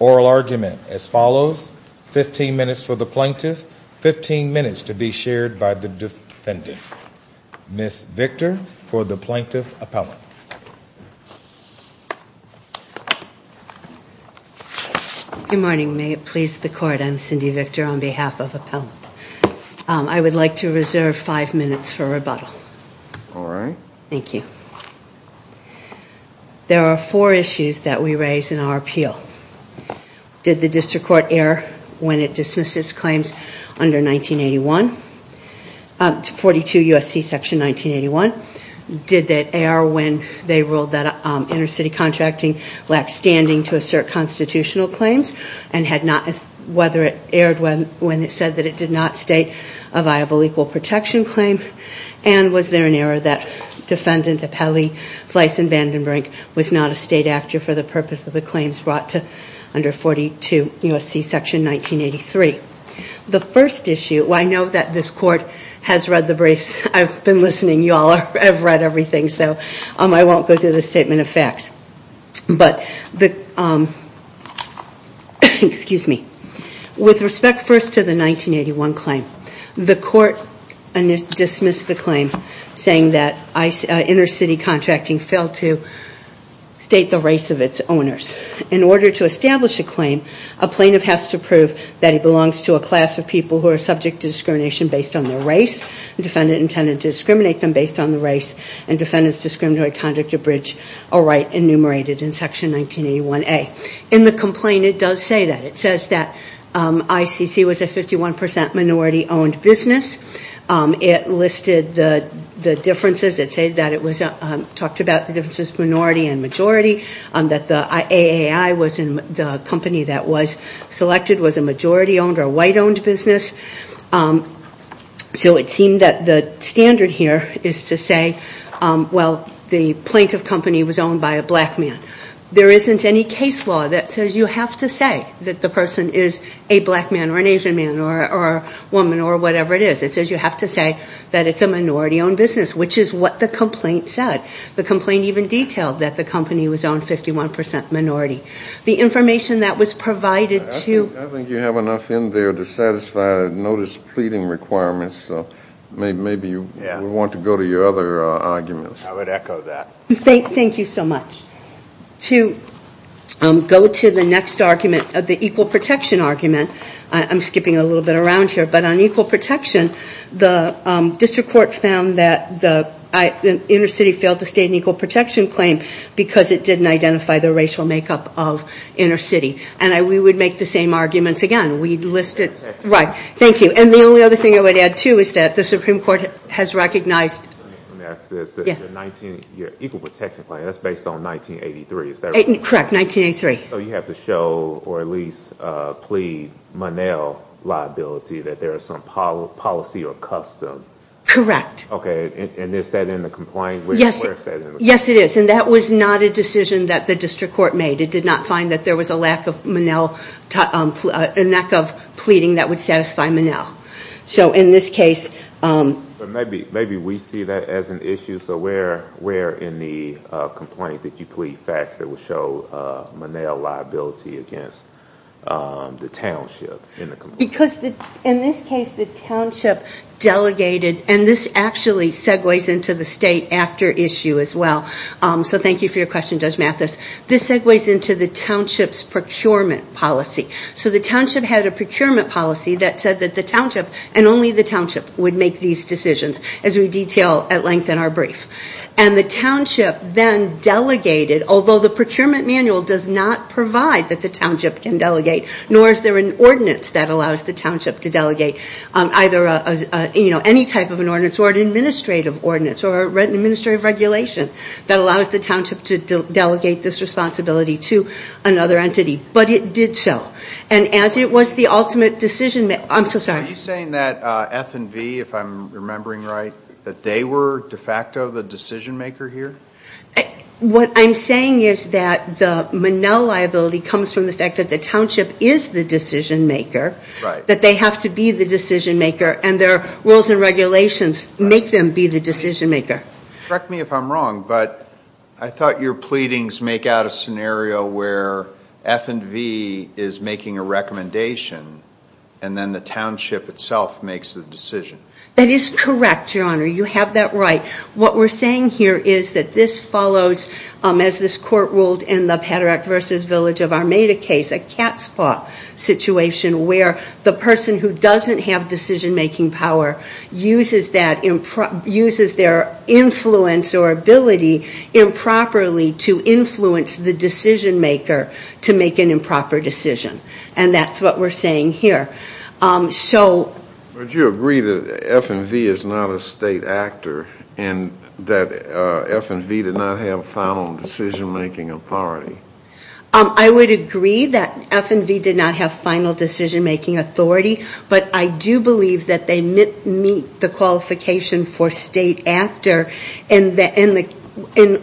Oral argument as follows, 15 minutes for the plaintiff, 15 minutes to be shared by the defendant. Ms. Victor for the plaintiff appellant. Good morning, may it please the court, I'm Cindy Victor on behalf of Appellate Court. I would like to reserve five minutes for rebuttal. There are four issues that we raise in our appeal. Did the district court err when it dismissed its claims under 42 U.S.C. section 1981? Did it err when they ruled that intercity contracting lacked standing to assert constitutional claims? And whether it erred when it said that it did not state a viable equal protection claim? And was there an error that defendant Appellee Fleiss Van Den Brink was not a state actor for the purpose of the claims brought to under 42 U.S.C. section 1983? The first issue, I know that this court has read the briefs, I've been listening, you all have read everything, so I won't go through the statement of facts. With respect first to the 1981 claim, the court dismissed the claim saying that intercity contracting failed to state the race of its owners. In order to establish a claim, a plaintiff has to prove that he belongs to a class of people who are subject to discrimination based on their race. The defendant intended to discriminate them based on their race and defendant's discriminatory conduct abridged a right enumerated in section 1981A. In the complaint it does say that. It says that ICC was a 51% minority owned business. It listed the differences. It said that it was, talked about the differences, minority and majority. That the AAI was the company that was selected was a majority owned or white owned business. So it seemed that the standard here is to say, well, the plaintiff company was owned by a black man. There isn't any case law that says you have to say that the person is a black man or an Asian man or a woman or whatever it is. It says you have to say that it's a minority owned business, which is what the complaint said. The complaint even detailed that the company was owned 51% minority. The information that was provided to... I think you have enough in there to satisfy notice pleading requirements. Maybe you want to go to your other arguments. I would echo that. Thank you so much. To go to the next argument, the equal protection argument. I'm skipping a little bit around here. But on equal protection, the district court found that the inner city failed to state an equal protection claim because it didn't identify the racial makeup of inner city. And we would make the same arguments again. We listed... Right, thank you. And the only other thing I would add too is that the Supreme Court has recognized... Let me ask this. Your equal protection claim, that's based on 1983, is that right? Correct, 1983. So you have to show or at least plead Monell liability that there is some policy or custom. Correct. Okay, and is that in the complaint? Yes, it is. And that was not a decision that the district court made. It did not find that there was a lack of Monell, a lack of pleading that would satisfy Monell. So in this case... Maybe we see that as an issue. So where in the complaint did you plead facts that would show Monell liability against the township in the complaint? Because in this case, the township delegated, and this actually segues into the state actor issue as well. So thank you for your question, Judge Mathis. This segues into the township's procurement policy. So the township had a procurement policy that said that the township and only the township would make these decisions, as we detail at length in our brief. And the township then delegated, although the procurement manual does not provide that the township can delegate, nor is there an ordinance that allows the township to delegate either any type of an ordinance or an administrative ordinance or an administrative regulation that allows the township to delegate this responsibility to another entity. But it did so. And as it was the ultimate decision, I'm so sorry. Are you saying that F and V, if I'm remembering right, that they were de facto the decision-maker here? What I'm saying is that the Monell liability comes from the fact that the township is the decision-maker, that they have to be the decision-maker, and their rules and regulations make them be the decision-maker. Correct me if I'm wrong, but I thought your pleadings make out a scenario where F and V is making a recommendation and then the township itself makes the decision. That is correct, Your Honor. You have that right. What we're saying here is that this follows, as this Court ruled in the Paderak v. Village of Armada case, a cat's paw situation where the person who doesn't have decision-making power uses their influence or ability improperly to influence the decision-maker to make an improper decision. And that's what we're saying here. Would you agree that F and V is not a state actor and that F and V did not have final decision-making authority? I would agree that F and V did not have final decision-making authority, but I do believe that they meet the qualification for state actor in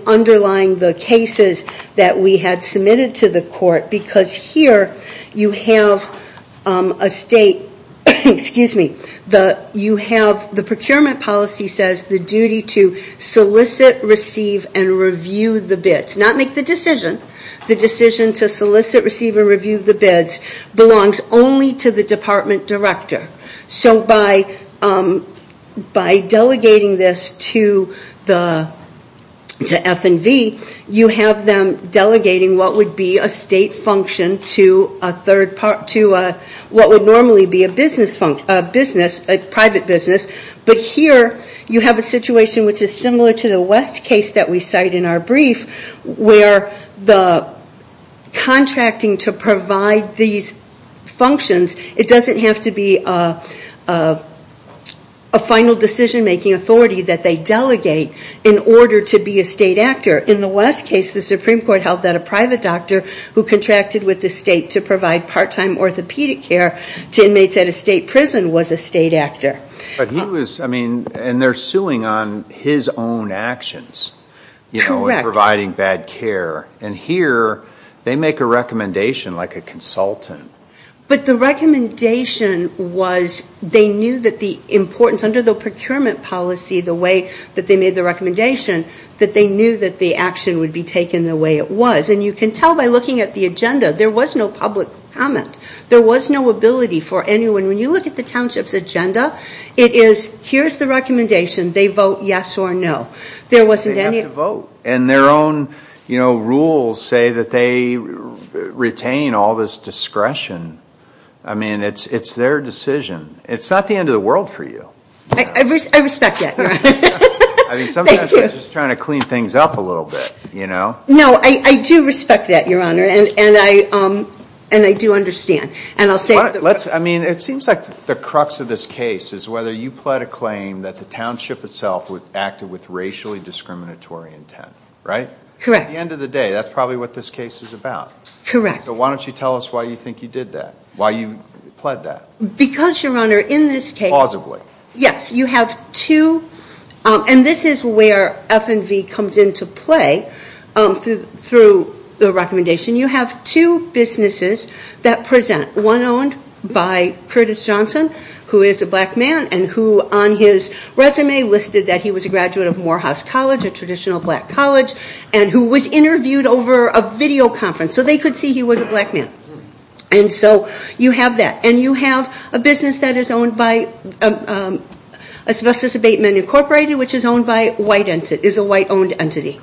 underlying the cases that we had submitted to the Court, because here you have the procurement policy says the duty to solicit, receive, and review the bids. Not make the decision. The decision to solicit, receive, and review the bids belongs only to the department director. So by delegating this to F and V, you have them delegating what would be a state function to what would normally be a private business. But here you have a situation which is similar to the West case that we cite in our brief, where the contracting to provide these functions, it doesn't have to be a final decision-making authority that they delegate in order to be a state actor. In the West case, the Supreme Court held that a private doctor who contracted with the state to provide part-time orthopedic care to inmates at a state prison was a state actor. But he was, I mean, and they're suing on his own actions. Correct. You know, in providing bad care. And here they make a recommendation like a consultant. But the recommendation was they knew that the importance under the procurement policy, the way that they made the recommendation, that they knew that the action would be taken the way it was. And you can tell by looking at the agenda, there was no public comment. There was no ability for anyone. And when you look at the township's agenda, it is here's the recommendation, they vote yes or no. There wasn't any. They have to vote. And their own, you know, rules say that they retain all this discretion. I mean, it's their decision. It's not the end of the world for you. I respect that, Your Honor. I mean, sometimes we're just trying to clean things up a little bit, you know. No, I do respect that, Your Honor. And I do understand. I mean, it seems like the crux of this case is whether you pled a claim that the township itself acted with racially discriminatory intent, right? Correct. At the end of the day, that's probably what this case is about. Correct. So why don't you tell us why you think you did that, why you pled that? Because, Your Honor, in this case. Plausibly. Yes. You have two. And this is where F&V comes into play through the recommendation. You have two businesses that present. One owned by Curtis Johnson, who is a black man and who on his resume listed that he was a graduate of Morehouse College, a traditional black college, and who was interviewed over a video conference. So they could see he was a black man. And so you have that. And you have a business that is owned by Asbestos Abatement Incorporated, which is owned by a white entity, is a white-owned entity.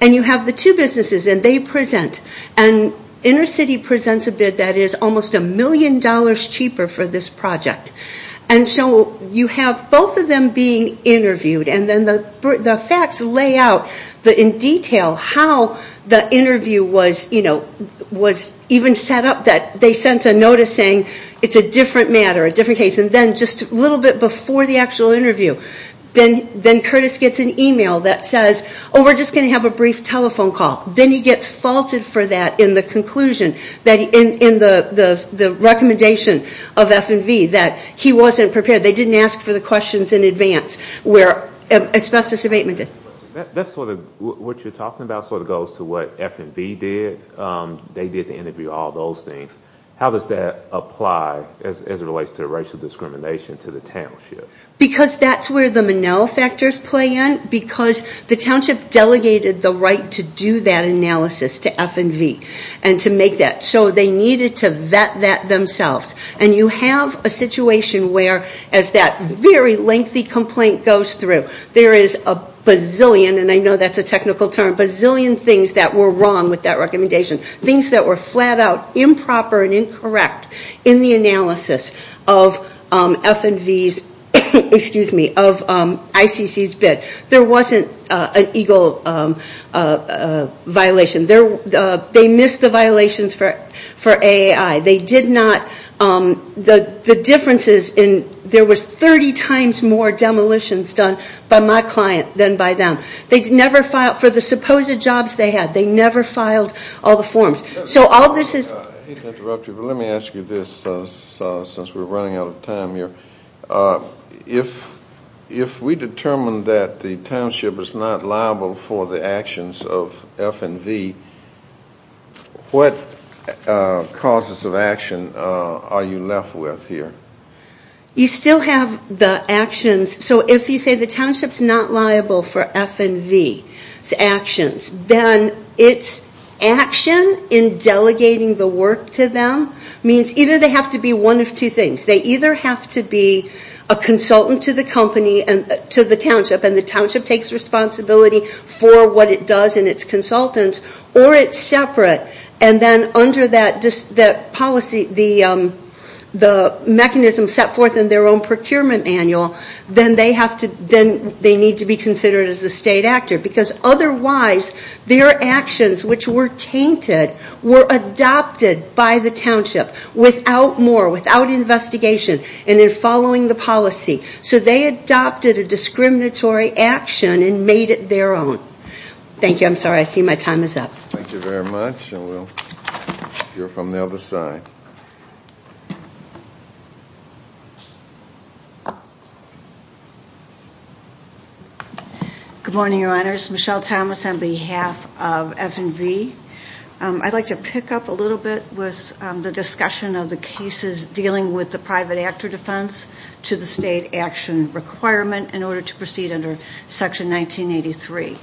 And you have the two businesses and they present. And InnerCity presents a bid that is almost a million dollars cheaper for this project. And so you have both of them being interviewed. And then the facts lay out in detail how the interview was even set up that they sent a notice saying it's a different matter, a different case. And then just a little bit before the actual interview, then Curtis gets an email that says, oh, we're just going to have a brief telephone call. Then he gets faulted for that in the conclusion, in the recommendation of F&V that he wasn't prepared. They didn't ask for the questions in advance where Asbestos Abatement did. That's sort of what you're talking about sort of goes to what F&V did. They did the interview, all those things. How does that apply as it relates to racial discrimination to the township? Because that's where the Manel factors play in. Because the township delegated the right to do that analysis to F&V and to make that. So they needed to vet that themselves. And you have a situation where as that very lengthy complaint goes through, there is a bazillion, and I know that's a technical term, bazillion things that were wrong with that recommendation. Things that were flat out improper and incorrect in the analysis of F&V's, excuse me, of ICC's bid. There wasn't an EGLE violation. They missed the violations for AAI. They did not, the differences in, there was 30 times more demolitions done by my client than by them. They never filed for the supposed jobs they had. They never filed all the forms. So all this is. I hate to interrupt you, but let me ask you this since we're running out of time here. If we determine that the township is not liable for the actions of F&V, what causes of action are you left with here? You still have the actions. So if you say the township is not liable for F&V's actions, then its action in delegating the work to them means either they have to be one of two things. They either have to be a consultant to the company, to the township, and the township takes responsibility for what it does and its consultants, or it's separate. And then under that policy, the mechanism set forth in their own procurement manual, then they need to be considered as a state actor. Because otherwise, their actions, which were tainted, were adopted by the township without more, without investigation, and in following the policy. So they adopted a discriminatory action and made it their own. Thank you. I'm sorry, I see my time is up. Thank you very much. And we'll hear from the other side. Good morning, Your Honors. Michelle Thomas on behalf of F&V. I'd like to pick up a little bit with the discussion of the cases dealing with the private actor defense to the state action requirement in order to proceed under Section 1983.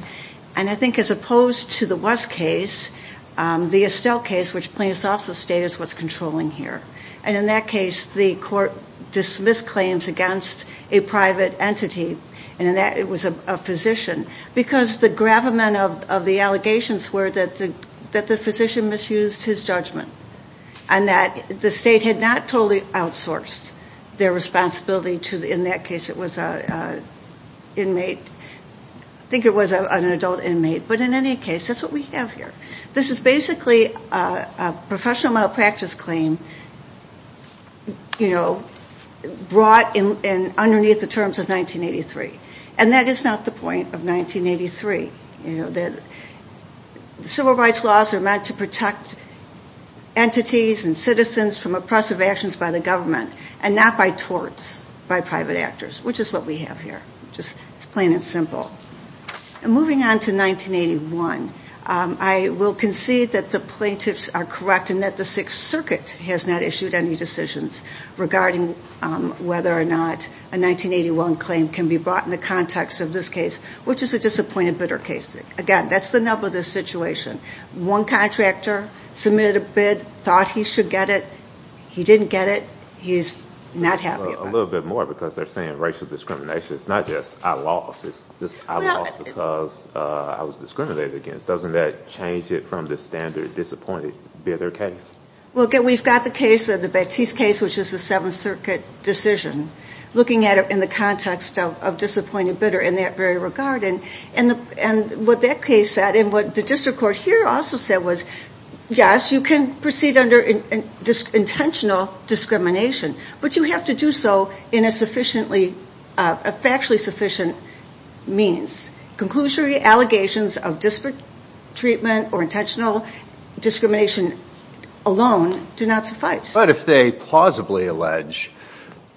And I think as opposed to the West case, the Estelle case, which plaintiffs also state is what's controlling here. And in that case, the court dismissed claims against a private entity, and it was a physician, because the gravamen of the allegations were that the physician misused his judgment and that the state had not totally outsourced their responsibility to, in that case, it was an inmate. I think it was an adult inmate. But in any case, that's what we have here. This is basically a professional malpractice claim, you know, brought underneath the terms of 1983. And that is not the point of 1983. You know, the civil rights laws are meant to protect entities and citizens from oppressive actions by the government and not by torts by private actors, which is what we have here. It's plain and simple. Moving on to 1981, I will concede that the plaintiffs are correct in that the Sixth Circuit has not issued any decisions regarding whether or not a 1981 claim can be brought in the context of this case, which is a disappointed bidder case. Again, that's the nub of this situation. One contractor submitted a bid, thought he should get it. He didn't get it. He's not happy about it. A little bit more, because they're saying racial discrimination. It's not just, I lost. It's just, I lost because I was discriminated against. Doesn't that change it from the standard disappointed bidder case? Well, again, we've got the case, the Batiste case, which is a Seventh Circuit decision, looking at it in the context of disappointed bidder in that very regard. And what that case said and what the district court here also said was, yes, you can proceed under intentional discrimination, but you have to do so in a sufficiently, a factually sufficient means. Conclusionary allegations of disparate treatment or intentional discrimination alone do not suffice. But if they plausibly allege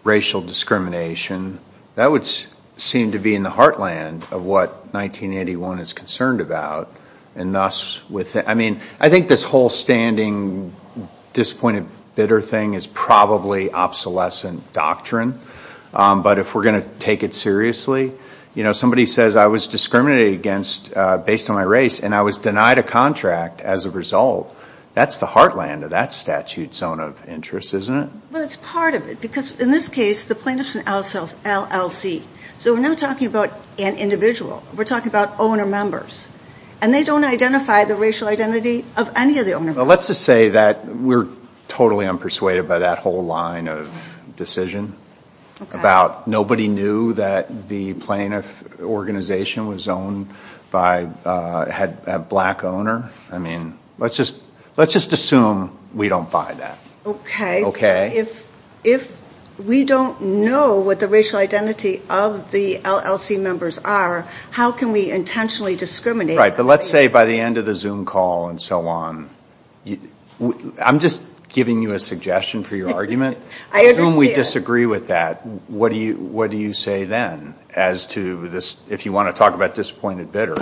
racial discrimination, that would seem to be in the heartland of what 1981 is concerned about. I mean, I think this whole standing disappointed bidder thing is probably obsolescent doctrine. But if we're going to take it seriously, you know, somebody says I was discriminated against based on my race and I was denied a contract as a result. That's the heartland of that statute's zone of interest, isn't it? Well, it's part of it, because in this case, the plaintiff is an LLC. So we're not talking about an individual. We're talking about owner members. And they don't identify the racial identity of any of the owner members. Well, let's just say that we're totally unpersuaded by that whole line of decision. Okay. About nobody knew that the plaintiff organization was owned by, had a black owner. I mean, let's just assume we don't buy that. Okay. Okay? If we don't know what the racial identity of the LLC members are, how can we intentionally discriminate? But let's say by the end of the Zoom call and so on, I'm just giving you a suggestion for your argument. I understand. Assume we disagree with that. What do you say then as to this, if you want to talk about disappointed bidder?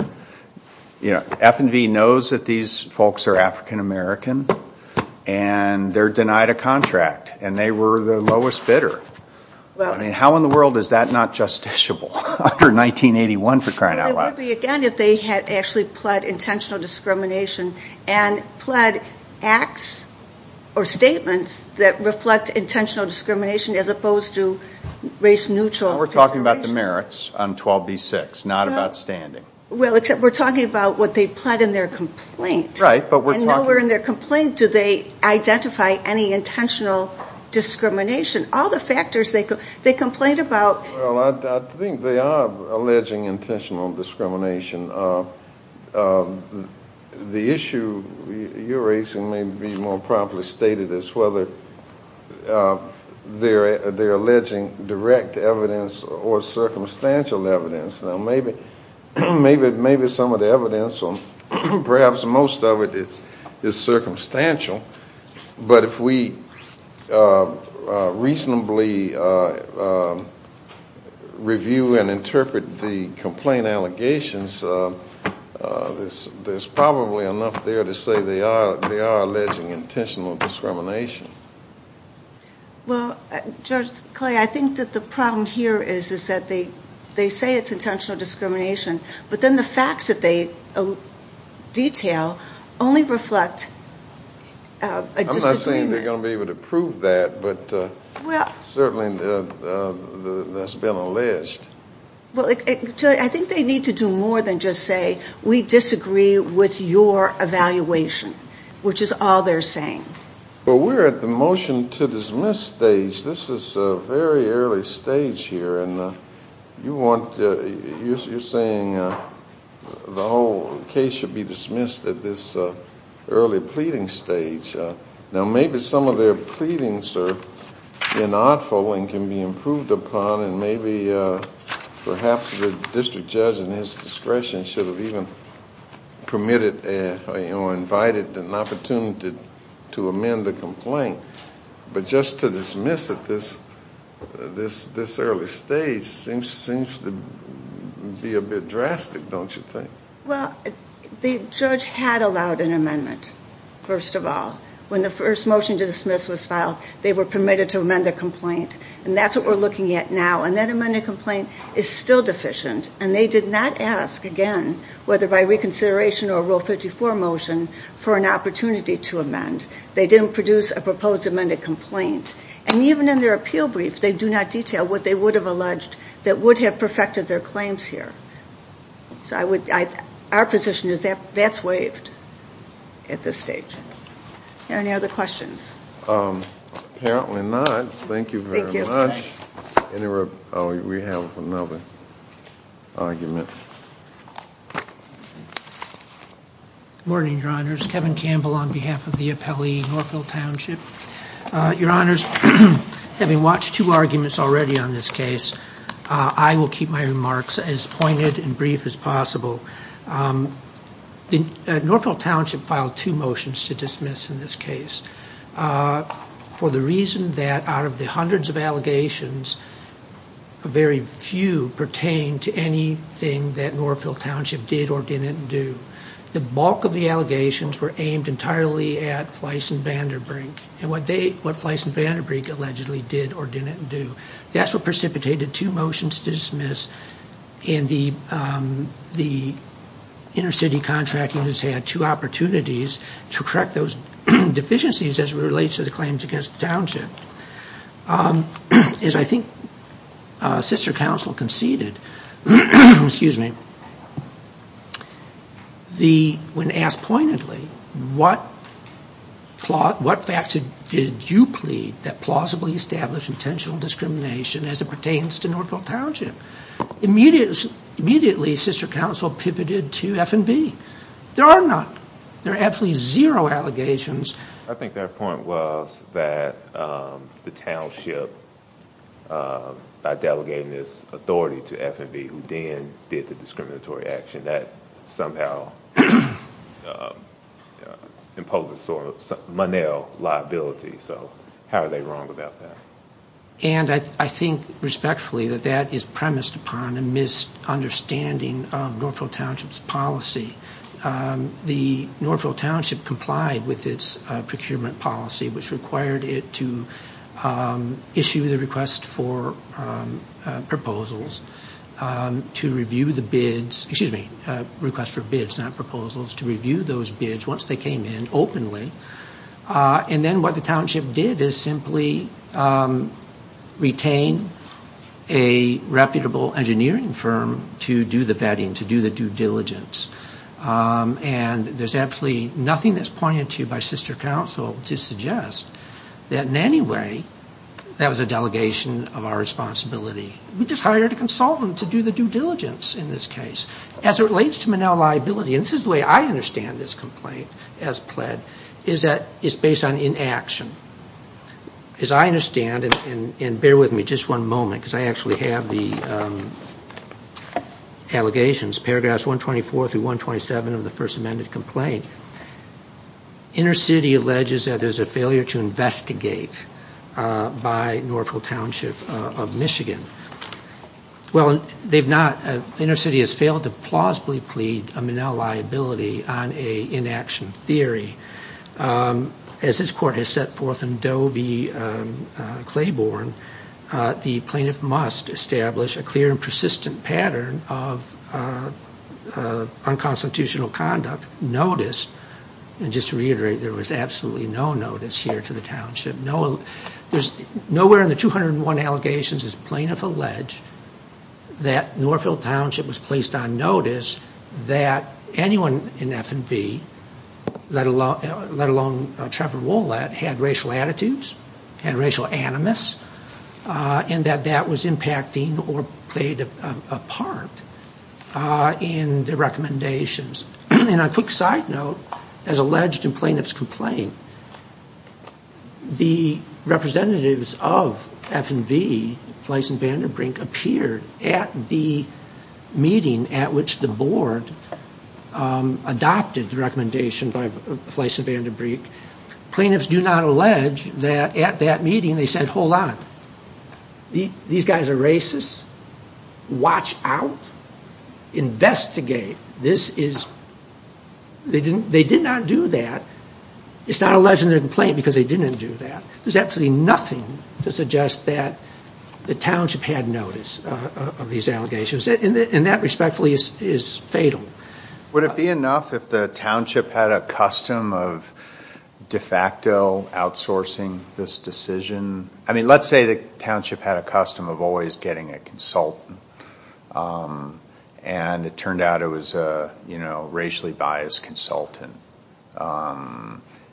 You know, F&V knows that these folks are African-American, and they're denied a contract. And they were the lowest bidder. I mean, how in the world is that not justiciable? Under 1981 for crying out loud. It would be, again, if they had actually pled intentional discrimination and pled acts or statements that reflect intentional discrimination as opposed to race-neutral considerations. We're talking about the merits on 12b-6, not about standing. Well, except we're talking about what they pled in their complaint. Right. And nowhere in their complaint do they identify any intentional discrimination. All the factors they complain about. Well, I think they are alleging intentional discrimination. The issue you're raising may be more properly stated as whether they're alleging direct evidence or circumstantial evidence. Now, maybe some of the evidence, or perhaps most of it, is circumstantial. But if we reasonably review and interpret the complaint allegations, there's probably enough there to say they are alleging intentional discrimination. Well, Judge Clay, I think that the problem here is that they say it's intentional discrimination, but then the facts that they detail only reflect a disagreement. I'm not saying they're going to be able to prove that, but certainly that's been alleged. Well, I think they need to do more than just say, we disagree with your evaluation, which is all they're saying. Well, we're at the motion to dismiss stage. This is a very early stage here, and you're saying the whole case should be dismissed at this early pleading stage. Now, maybe some of their pleadings are inaudible and can be improved upon, and maybe perhaps the district judge, in his discretion, should have even permitted or invited an opportunity to amend the complaint. But just to dismiss at this early stage seems to be a bit drastic, don't you think? Well, the judge had allowed an amendment, first of all. When the first motion to dismiss was filed, they were permitted to amend the complaint, and that's what we're looking at now. And that amended complaint is still deficient, and they did not ask, again, whether by reconsideration or a Rule 54 motion, for an opportunity to amend. They didn't produce a proposed amended complaint. And even in their appeal brief, they do not detail what they would have alleged that would have perfected their claims here. So our position is that that's waived at this stage. Are there any other questions? Apparently not. Thank you very much. We have another argument. Good morning, Your Honors. Kevin Campbell on behalf of the appellee, Norfolk Township. Your Honors, having watched two arguments already on this case, I will keep my remarks as pointed and brief as possible. Norfolk Township filed two motions to dismiss in this case for the reason that out of the hundreds of allegations, very few pertain to anything that Norfolk Township did or didn't do. The bulk of the allegations were aimed entirely at Fleiss and Vanderbrink, and what Fleiss and Vanderbrink allegedly did or didn't do. That's what precipitated two motions to dismiss, and the inner city contracting has had two opportunities to correct those deficiencies as it relates to the claims against the township. As I think Sister Counsel conceded, when asked pointedly, what facts did you plead that plausibly established intentional discrimination as it pertains to Norfolk Township? Immediately, Sister Counsel pivoted to F and B. There are none. There are absolutely zero allegations. I think their point was that the township, by delegating this authority to F and B, who then did the discriminatory action, that somehow imposes sort of monel liability. So how are they wrong about that? And I think respectfully that that is premised upon a misunderstanding of Norfolk Township's policy. The Norfolk Township complied with its procurement policy, which required it to issue the request for proposals to review the bids, excuse me, request for bids, not proposals, to review those bids once they came in openly. And then what the township did is simply retain a reputable engineering firm to do the vetting, to do the due diligence. And there's absolutely nothing that's pointed to by Sister Counsel to suggest that in any way that was a delegation of our responsibility. We just hired a consultant to do the due diligence in this case. As it relates to monel liability, and this is the way I understand this complaint as pled, is that it's based on inaction. As I understand, and bear with me just one moment because I actually have the allegations, paragraphs 124 through 127 of the first amended complaint, Inner City alleges that there's a failure to investigate by Norfolk Township of Michigan. Well, they've not, Inner City has failed to plausibly plead a monel liability on an inaction theory. As this court has set forth in Doe v. Claiborne, the plaintiff must establish a clear and persistent pattern of unconstitutional conduct. Notice, and just to reiterate, there was absolutely no notice here to the township. Nowhere in the 201 allegations is plaintiff alleged that Norfolk Township was placed on notice that anyone in F&V, let alone Trevor Wollett, had racial attitudes, had racial animus, and that that was impacting or played a part in the recommendations. And a quick side note, as alleged in plaintiff's complaint, the representatives of F&V, Fleiss and Vanderbrink, appeared at the meeting at which the board adopted the recommendation by Fleiss and Vanderbrink. Plaintiffs do not allege that at that meeting they said, hold on, these guys are racist, watch out, investigate. This is, they did not do that. It's not alleged in their complaint because they didn't do that. There's absolutely nothing to suggest that the township had notice of these allegations, and that respectfully is fatal. Would it be enough if the township had a custom of de facto outsourcing this decision? I mean, let's say the township had a custom of always getting a consultant, and it turned out it was a racially biased consultant.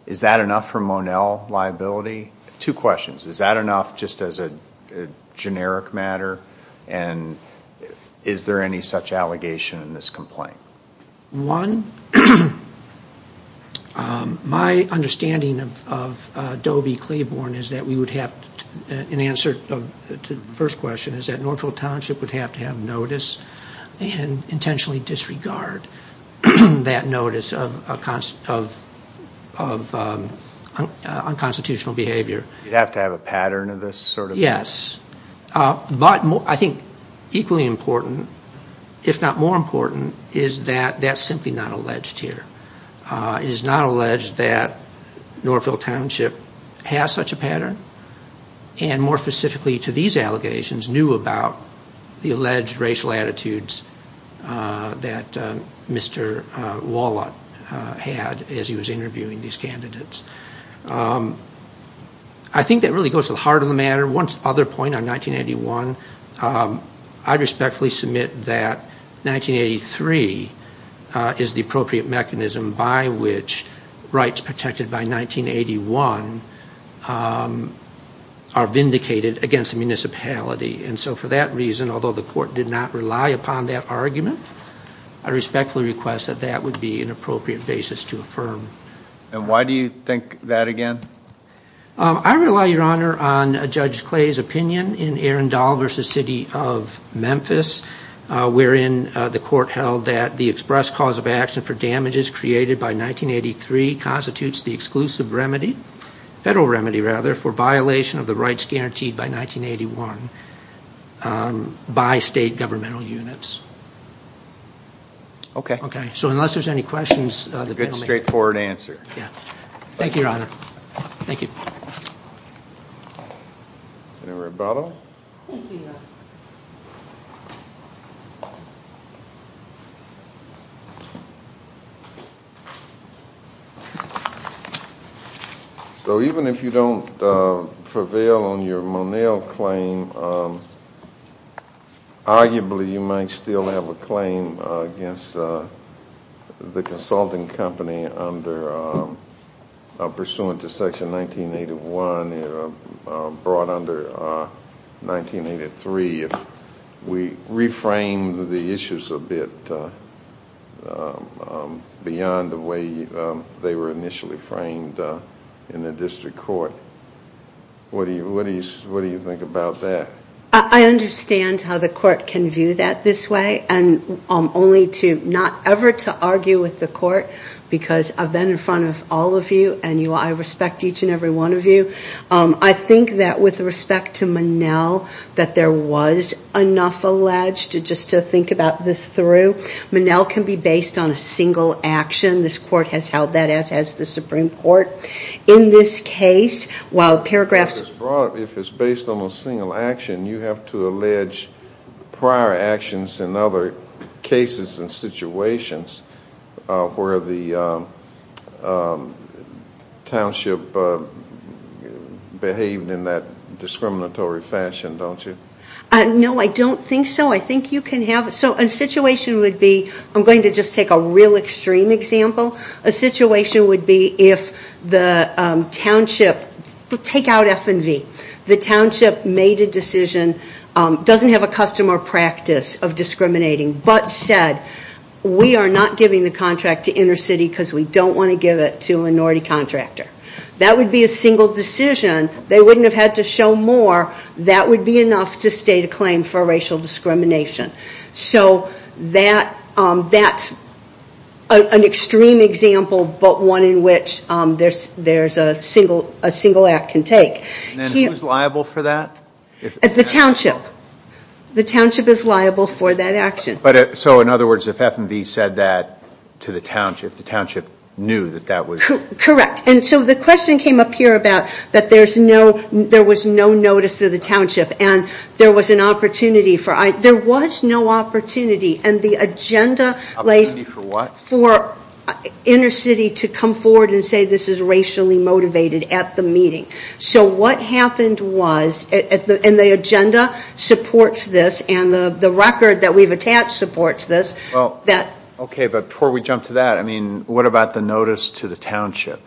Is that enough for Monell liability? Two questions, is that enough just as a generic matter, and is there any such allegation in this complaint? One, my understanding of Dobie Claiborne is that we would have, in answer to the first question, is that Northville Township would have to have notice and intentionally disregard that notice of unconstitutional behavior. You'd have to have a pattern of this sort of thing? Yes, but I think equally important, if not more important, is that that's simply not alleged here. It is not alleged that Northville Township has such a pattern, and more specifically to these allegations, knew about the alleged racial attitudes that Mr. Wallot had as he was interviewing these candidates. I think that really goes to the heart of the matter. One other point on 1981, I respectfully submit that 1983 is the appropriate mechanism by which rights protected by 1981 are vindicated against the municipality. And so for that reason, although the court did not rely upon that argument, I respectfully request that that would be an appropriate basis to affirm. And why do you think that again? I rely, Your Honor, on Judge Clay's opinion in Arundel v. City of Memphis, wherein the court held that the express cause of action for damages created by 1983 constitutes the exclusive remedy, federal remedy rather, for violation of the rights guaranteed by 1981 by state governmental units. Okay. So unless there's any questions. Good, straightforward answer. Thank you, Your Honor. Thank you. Any rebuttal? No. Thank you, Your Honor. So even if you don't prevail on your Monell claim, arguably you might still have a claim against the consulting company pursuant to Section 1981 brought under 1983 if we reframe the issues a bit beyond the way they were initially framed in the district court. What do you think about that? I understand how the court can view that this way, and only to not ever to argue with the court because I've been in front of all of you and I respect each and every one of you. I think that with respect to Monell that there was enough alleged, just to think about this through. Monell can be based on a single action. This court has held that as has the Supreme Court. In this case, while paragraphs of this brought up, if it's based on a single action, you have to allege prior actions in other cases and situations where the township behaved in that discriminatory fashion, don't you? No, I don't think so. I think you can have it. So a situation would be, I'm going to just take a real extreme example. A situation would be if the township, take out F and V, the township made a decision, doesn't have a custom or practice of discriminating, but said we are not giving the contract to inner city because we don't want to give it to a minority contractor. That would be a single decision. They wouldn't have had to show more. That would be enough to state a claim for racial discrimination. So that's an extreme example, but one in which there's a single act can take. And then who's liable for that? The township. The township is liable for that action. So in other words, if F and V said that to the township, the township knew that that was? Correct. And so the question came up here about that there was no notice to the township and there was an opportunity for, there was no opportunity and the agenda lays. Opportunity for what? For inner city to come forward and say this is racially motivated at the meeting. So what happened was, and the agenda supports this and the record that we've attached supports this. Okay, but before we jump to that, I mean, what about the notice to the township?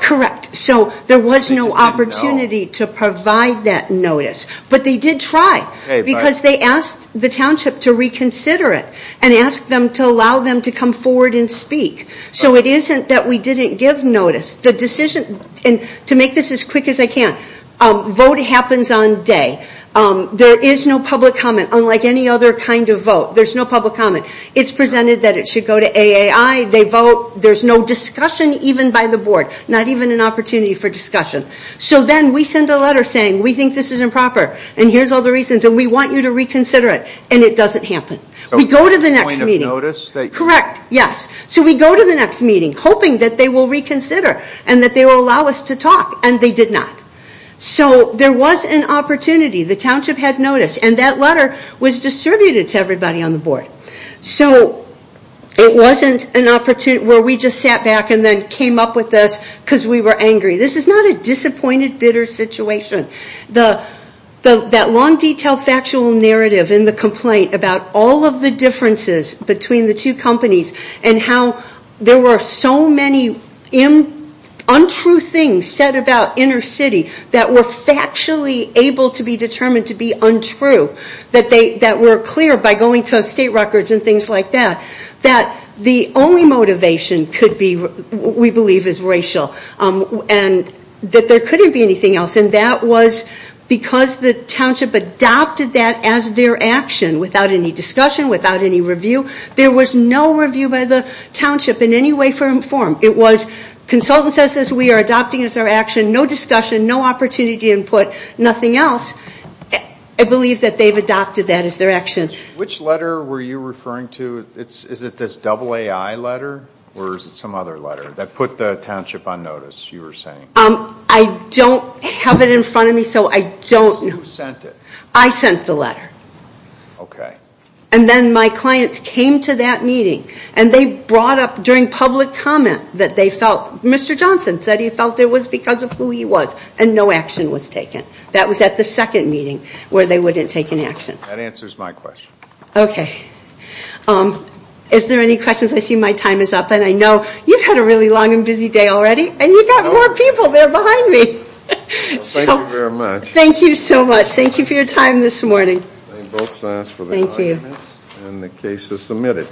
Correct. So there was no opportunity to provide that notice. But they did try because they asked the township to reconsider it and asked them to allow them to come forward and speak. So it isn't that we didn't give notice. The decision, and to make this as quick as I can, vote happens on day. There is no public comment unlike any other kind of vote. There's no public comment. It's presented that it should go to AAI. They vote. There's no discussion even by the board. Not even an opportunity for discussion. So then we send a letter saying we think this is improper and here's all the reasons and we want you to reconsider it and it doesn't happen. We go to the next meeting. Point of notice? Correct, yes. So we go to the next meeting hoping that they will reconsider and that they will allow us to talk and they did not. So there was an opportunity. The township had notice and that letter was distributed to everybody on the board. So it wasn't an opportunity where we just sat back and then came up with this because we were angry. This is not a disappointed, bitter situation. That long, detailed, factual narrative in the complaint about all of the differences between the two companies and how there were so many untrue things said about Inner City that were factually able to be determined to be untrue, that were clear by going to state records and things like that, that the only motivation could be, we believe, is racial and that there couldn't be anything else. And that was because the township adopted that as their action without any discussion, without any review. There was no review by the township in any way, form. It was consultant says this, we are adopting this as our action, no discussion, no opportunity input, nothing else. I believe that they've adopted that as their action. Which letter were you referring to? Is it this AAI letter or is it some other letter that put the township on notice, you were saying? I don't have it in front of me so I don't know. Who sent it? I sent the letter. Okay. And then my clients came to that meeting and they brought up during public comment that they felt Mr. Johnson said he felt it was because of who he was and no action was taken. That was at the second meeting where they wouldn't take an action. That answers my question. Okay. Is there any questions? I see my time is up and I know you've had a really long and busy day already and you've got more people there behind me. Thank you very much. Thank you so much. Thank you for your time this morning. Thank you. And the case is submitted.